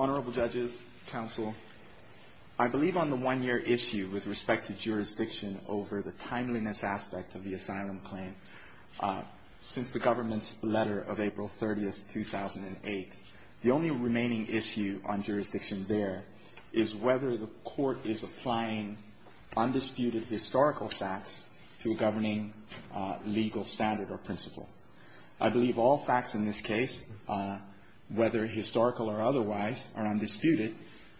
Honourable judges, counsel, I believe on the one-year issue with respect to jurisdiction over the timeliness aspect of the asylum claim, since the government's letter of April 30, 2008, the only remaining issue on jurisdiction there is whether the court is applying undisputed historical facts to a governing legal standard or principle. I believe all facts in this case, whether historical or otherwise, are undisputed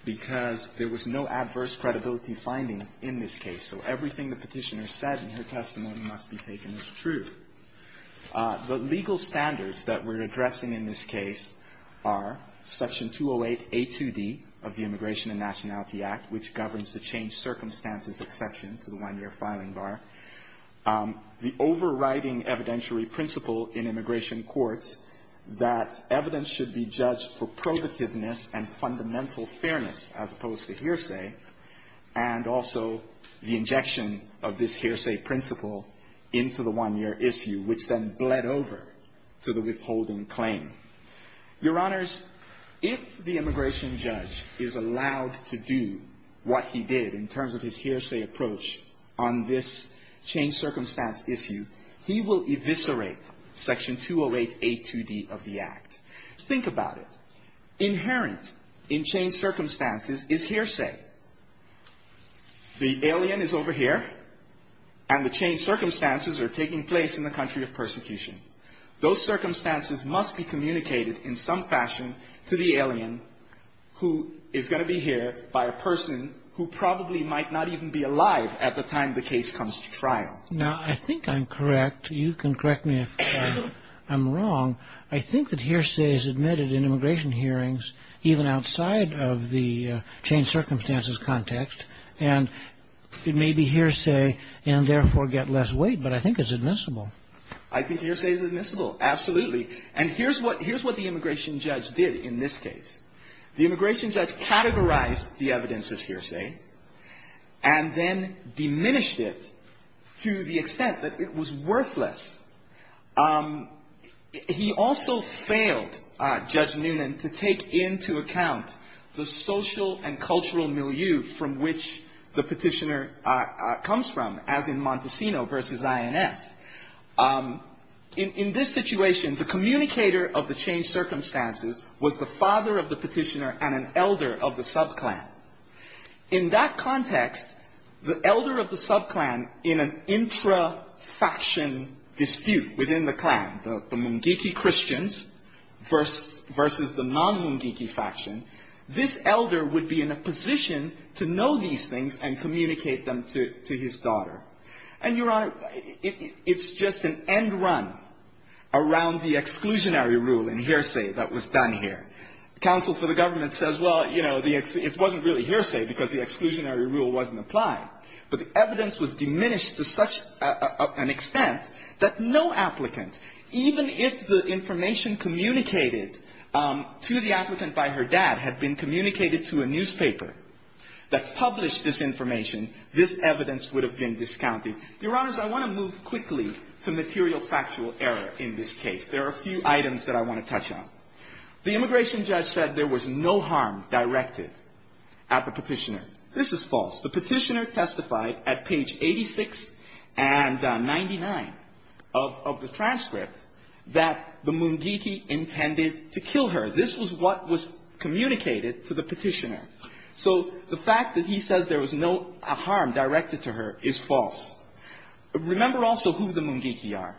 because there was no adverse credibility finding in this case, so everything the petitioner said in her testimony must be taken as true. The legal standards that we're addressing in this case are Section 208A2D of the Immigration and Nationality Act, which governs the changed circumstances exception to the one-year filing bar. The overriding evidentiary principle in immigration courts that evidence should be judged for probativeness and fundamental fairness, as opposed to hearsay, and also the injection of this hearsay principle into the one-year issue, which then bled over to the withholding claim. Your Honors, if the immigration judge is allowed to do what he did in terms of his hearsay approach on this changed circumstance issue, he will eviscerate Section 208A2D of the Act. Think about it. Inherent in changed circumstances is hearsay. The alien is over here, and the changed circumstances are taking place in the country of persecution. Those circumstances must be communicated in some fashion to the alien who is going to be here by a person who probably might not even be alive at the time the case comes to trial. Now, I think I'm correct. You can correct me if I'm wrong. I think that hearsay is admitted in immigration hearings, even outside of the changed circumstances context, and it may be hearsay and therefore get less weight, but I think it's admissible. I think hearsay is admissible. Absolutely. And here's what the immigration judge did in this case. The immigration judge categorized the evidence as hearsay and then diminished it to the extent that it was worthless. He also failed, Judge Noonan, to take into account the social and cultural milieu from which the petitioner comes from, as in Montesino v. INS. In this situation, the communicator of the changed circumstances was the father of the petitioner and an elder of the subclan. In that context, the elder of the subclan in an intra-faction dispute within the clan, the Mungiki Christians versus the non-Mungiki faction, this elder would be in a position to know these things and communicate them to his daughter. And, Your Honor, it's just an end run around the exclusionary rule in hearsay that was done here. And counsel for the government says, well, you know, it wasn't really hearsay because the exclusionary rule wasn't applied. But the evidence was diminished to such an extent that no applicant, even if the information communicated to the applicant by her dad had been communicated to a newspaper that published this information, this evidence would have been discounted. Your Honors, I want to move quickly to material factual error in this case. There are a few items that I want to touch on. The immigration judge said there was no harm directed at the petitioner. This is false. The petitioner testified at page 86 and 99 of the transcript that the Mungiki intended to kill her. This was what was communicated to the petitioner. So the fact that he says there was no harm directed to her is false. Remember also who the Mungiki are.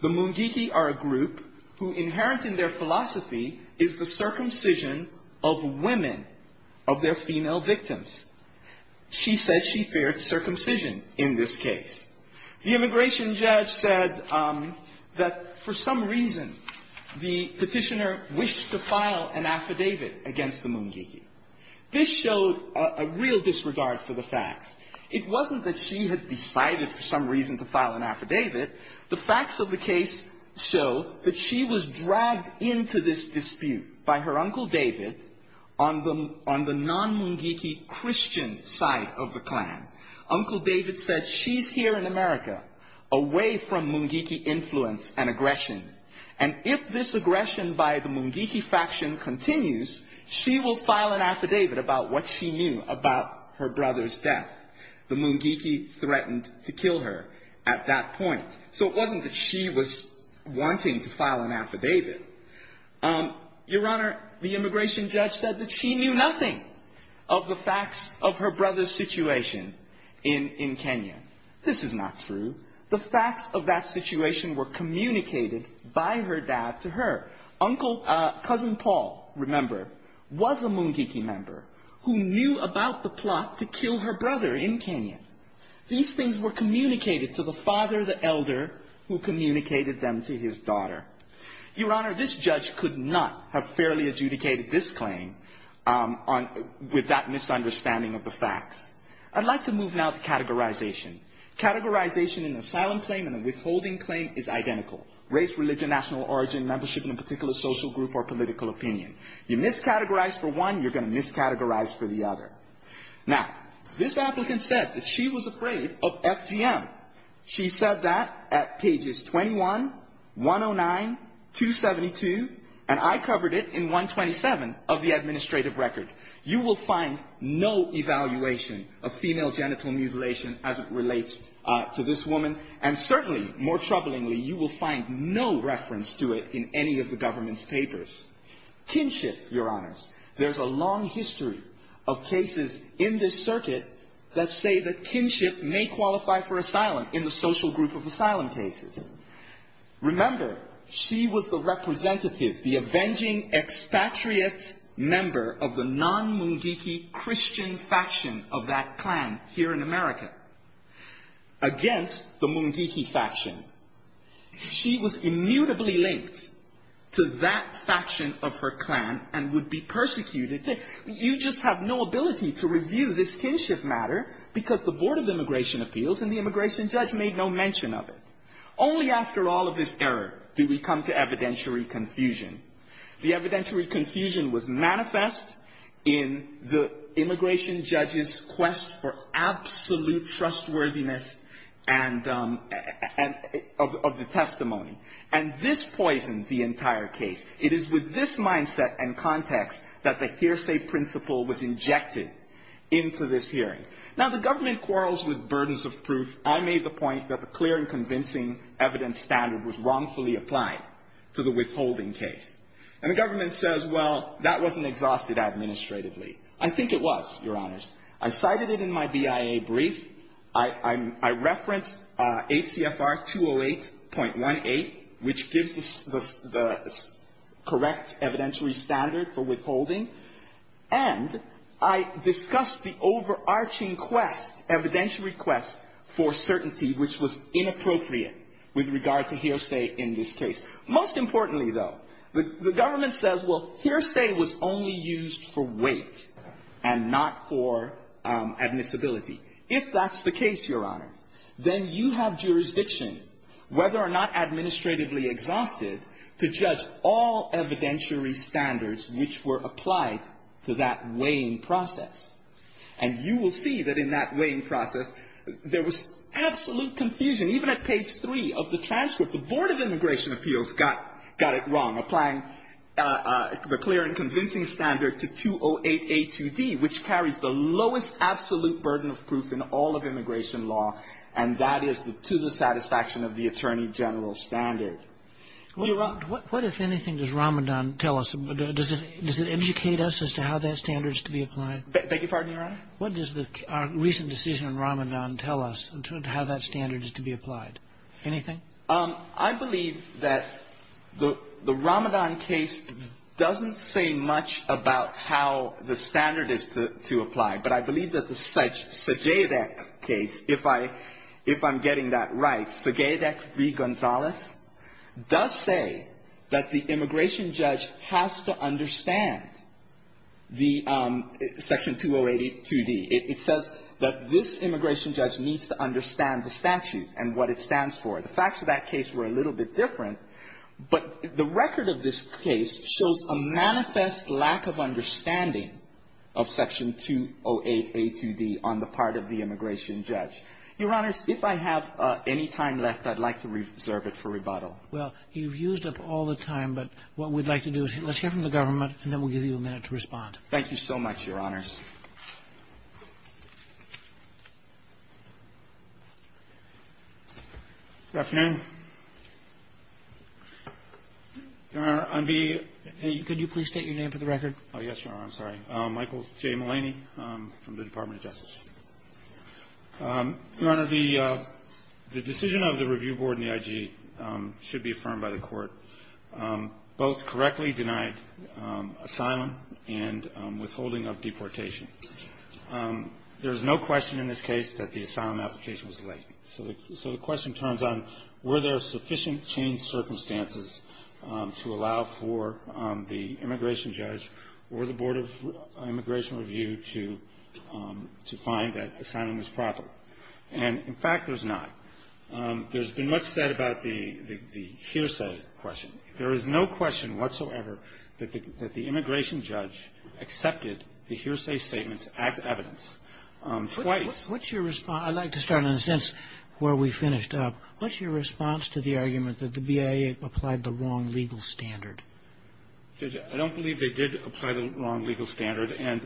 The Mungiki are a group who, inherent in their philosophy, is the circumcision of women, of their female victims. She said she feared circumcision in this case. The immigration judge said that for some reason the petitioner wished to file an affidavit against the Mungiki. This showed a real disregard for the facts. It wasn't that she had decided for some reason to file an affidavit. The facts of the case show that she was dragged into this dispute by her Uncle David on the non-Mungiki Christian side of the clan. Uncle David said she's here in America, away from Mungiki influence and aggression. And if this aggression by the Mungiki faction continues, she will file an affidavit about what she knew about her brother's death. The Mungiki threatened to kill her at that point. So it wasn't that she was wanting to file an affidavit. Your Honor, the immigration judge said that she knew nothing of the facts of her brother's situation in Kenya. This is not true. The facts of that situation were communicated by her dad to her. Cousin Paul, remember, was a Mungiki member who knew about the plot to kill her brother in Kenya. These things were communicated to the father, the elder, who communicated them to his daughter. Your Honor, this judge could not have fairly adjudicated this claim with that misunderstanding of the facts. I'd like to move now to categorization. Categorization in the asylum claim and the withholding claim is identical. Race, religion, national origin, membership in a particular social group or political opinion. You miscategorize for one, you're going to miscategorize for the other. Now, this applicant said that she was afraid of FGM. She said that at pages 21, 109, 272, and I covered it in 127 of the administrative record. You will find no evaluation of female genital mutilation as it relates to this woman. And certainly, more troublingly, you will find no reference to it in any of the government's papers. Kinship, Your Honors. There's a long history of cases in this circuit that say that kinship may qualify for asylum in the social group of asylum cases. Remember, she was the representative, the avenging expatriate member of the non-Mungiki Christian faction of that clan here in America. Against the Mungiki faction. She was immutably linked to that faction of her clan and would be persecuted. You just have no ability to review this kinship matter because the Board of Immigration Appeals and the immigration judge made no mention of it. Only after all of this error do we come to evidentiary confusion. The evidentiary confusion was manifest in the immigration judge's quest for absolute trustworthiness and of the testimony. And this poisoned the entire case. It is with this mindset and context that the hearsay principle was injected into this hearing. Now, the government quarrels with burdens of proof. I made the point that the clear and convincing evidence standard was wrongfully applied to the withholding case. And the government says, well, that wasn't exhausted administratively. I think it was, Your Honors. I cited it in my BIA brief. I referenced 8 CFR 208.18, which gives the correct evidentiary standard for withholding. And I discussed the overarching quest, evidentiary quest, for certainty, which was inappropriate with regard to hearsay in this case. Most importantly, though, the government says, well, hearsay was only used for weight and not for admissibility. If that's the case, Your Honors, then you have jurisdiction, whether or not administratively exhausted, to judge all evidentiary standards which were applied to that weighing process. And you will see that in that weighing process, there was absolute confusion, even at page 3 of the transcript. The Board of Immigration Appeals got it wrong, applying the clear and convincing standard to 208A2D, which carries the lowest absolute burden of proof in all of immigration law, and that is to the satisfaction of the attorney general standard. Well, Your Honor. What, if anything, does Ramadan tell us? Does it educate us as to how that standard is to be applied? Beg your pardon, Your Honor? What does our recent decision on Ramadan tell us in terms of how that standard is to be applied? Anything? I believe that the Ramadan case doesn't say much about how the standard is to apply, but I believe that the Segevac case, if I'm getting that right, Segevac v. Gonzalez, does say that the immigration judge has to understand the Section 208A2D. It says that this immigration judge needs to understand the statute and what it stands for. The facts of that case were a little bit different, but the record of this case shows a manifest lack of understanding of Section 208A2D on the part of the immigration judge. Your Honors, if I have any time left, I'd like to reserve it for rebuttal. Well, you've used up all the time, but what we'd like to do is let's hear from the government, and then we'll give you a minute to respond. Thank you so much, Your Honors. Good afternoon. Your Honor, I'm being- Could you please state your name for the record? Oh, yes, Your Honor. I'm sorry. Michael J. Malaney from the Department of Justice. Your Honor, the decision of the Review Board and the IG should be affirmed by the Court. Both correctly denied asylum and withholding of deportation. There is no question in this case that the asylum application was delayed. So the question turns on, were there sufficient changed circumstances to allow for the immigration judge or the Board of Immigration Review to find that asylum was probable? And, in fact, there's not. There's been much said about the hearsay question. There is no question whatsoever that the immigration judge accepted the hearsay statements as evidence. Twice. What's your response? I'd like to start in a sense where we finished up. What's your response to the argument that the BIA applied the wrong legal standard? Judge, I don't believe they did apply the wrong legal standard. And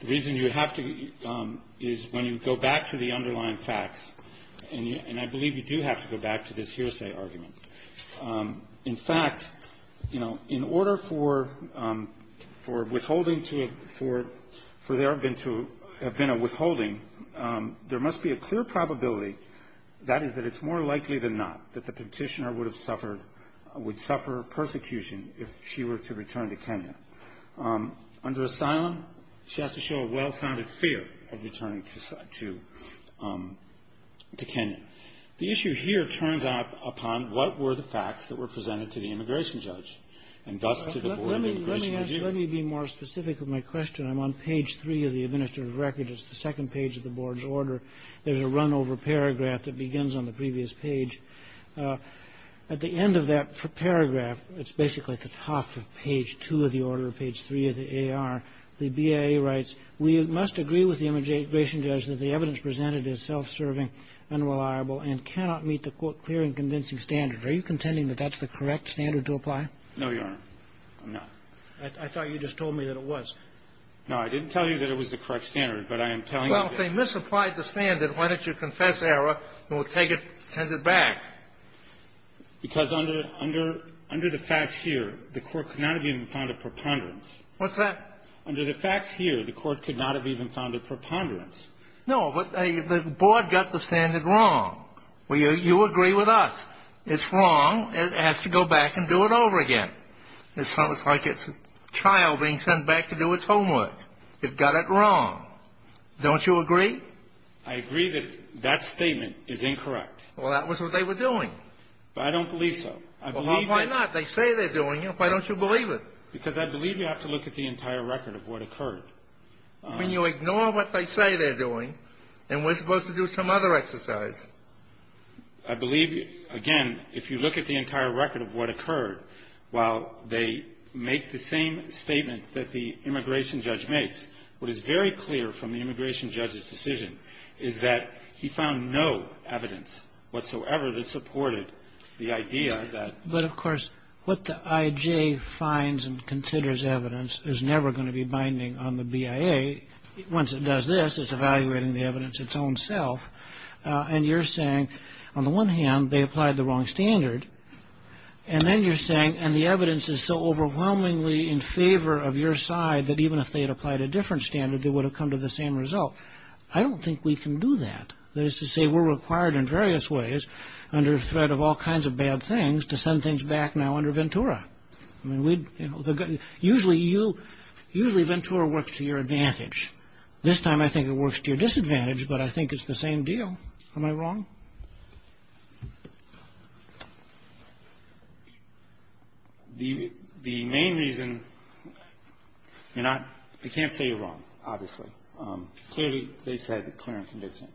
the reason you have to is when you go back to the underlying facts, and I believe you do have to go back to this hearsay argument. In fact, you know, in order for withholding to have been a withholding, there must be a clear probability, that is, that it's more likely than not that the Petitioner would suffer persecution if she were to return to Kenya. Under asylum, she has to show a well-founded fear of returning to Kenya. The issue here turns out upon what were the facts that were presented to the immigration judge, and thus to the Board of Immigration Review. Let me be more specific with my question. I'm on page three of the administrative record. It's the second page of the Board's order. There's a runover paragraph that begins on the previous page. At the end of that paragraph, it's basically at the top of page two of the order, page three of the AR, the BIA writes, Are you contending that that's the correct standard to apply? No, Your Honor. I'm not. I thought you just told me that it was. No, I didn't tell you that it was the correct standard, but I am telling you that Well, if they misapplied the standard, why don't you confess error and we'll take it and send it back? Because under the facts here, the Court could not have even found a preponderance. What's that? Under the facts here, the Court could not have even found a preponderance. No, but the Board got the standard wrong. You agree with us. It's wrong. It has to go back and do it over again. It's almost like it's a child being sent back to do its homework. It got it wrong. Don't you agree? I agree that that statement is incorrect. Well, that was what they were doing. But I don't believe so. I believe that Well, why not? They say they're doing it. Why don't you believe it? Because I believe you have to look at the entire record of what occurred. But you ignore what they say they're doing, and we're supposed to do some other exercise. I believe, again, if you look at the entire record of what occurred, while they make the same statement that the immigration judge makes, what is very clear from the immigration judge's decision is that he found no evidence whatsoever that supported the idea that But, of course, what the IJ finds and considers evidence is never going to be binding on the BIA. Once it does this, it's evaluating the evidence its own self. And you're saying, on the one hand, they applied the wrong standard. And then you're saying, and the evidence is so overwhelmingly in favor of your side that even if they had applied a different standard, they would have come to the same result. I don't think we can do that. That is to say, we're required in various ways, under threat of all kinds of bad things, to send things back now under Ventura. I mean, usually Ventura works to your advantage. This time I think it works to your disadvantage, but I think it's the same deal. Am I wrong? The main reason, you're not, I can't say you're wrong, obviously. Clearly, they said clear and convincing.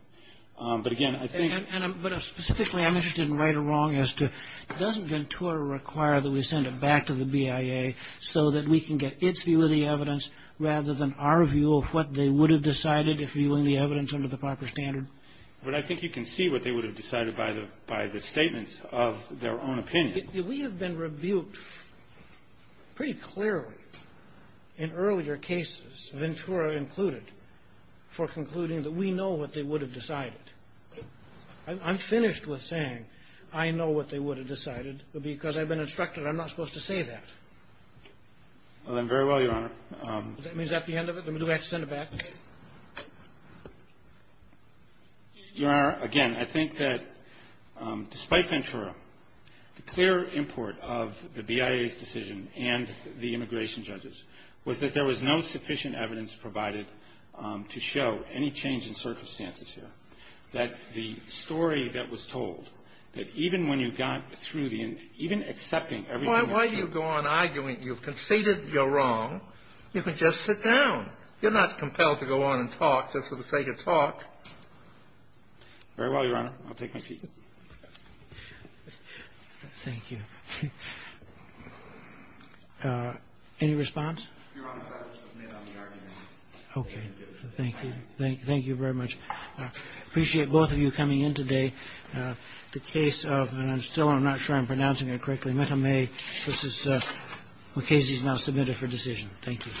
But, again, I think And I'm, but specifically, I'm interested in right or wrong as to, doesn't Ventura require that we send it back to the BIA so that we can get its view of the evidence rather than our view of what they would have decided if viewing the evidence under the proper standard? But I think you can see what they would have decided by the, by the statements of their own opinion. We have been rebuked pretty clearly in earlier cases, Ventura included, for concluding that we know what they would have decided. I'm finished with saying I know what they would have decided because I've been instructed I'm not supposed to say that. Well, then, very well, Your Honor. Does that mean that's the end of it? Do we have to send it back? Your Honor, again, I think that, despite Ventura, the clear import of the BIA's decision and the immigration judges was that there was no sufficient evidence provided to show any change in circumstances here. That the story that was told, that even when you got through the, even accepting everything that was said Why do you go on arguing? You've conceded you're wrong. You can just sit down. You're not compelled to go on and talk just for the sake of talk. Very well, Your Honor. I'll take my seat. Thank you. Any response? Your Honor, I'll submit on the argument. Okay. Thank you. Thank you very much. I appreciate both of you coming in today. The case of, and I'm still, I'm not sure I'm pronouncing it correctly, Metta May v. MacCasey is now submitted for decision. Thank you.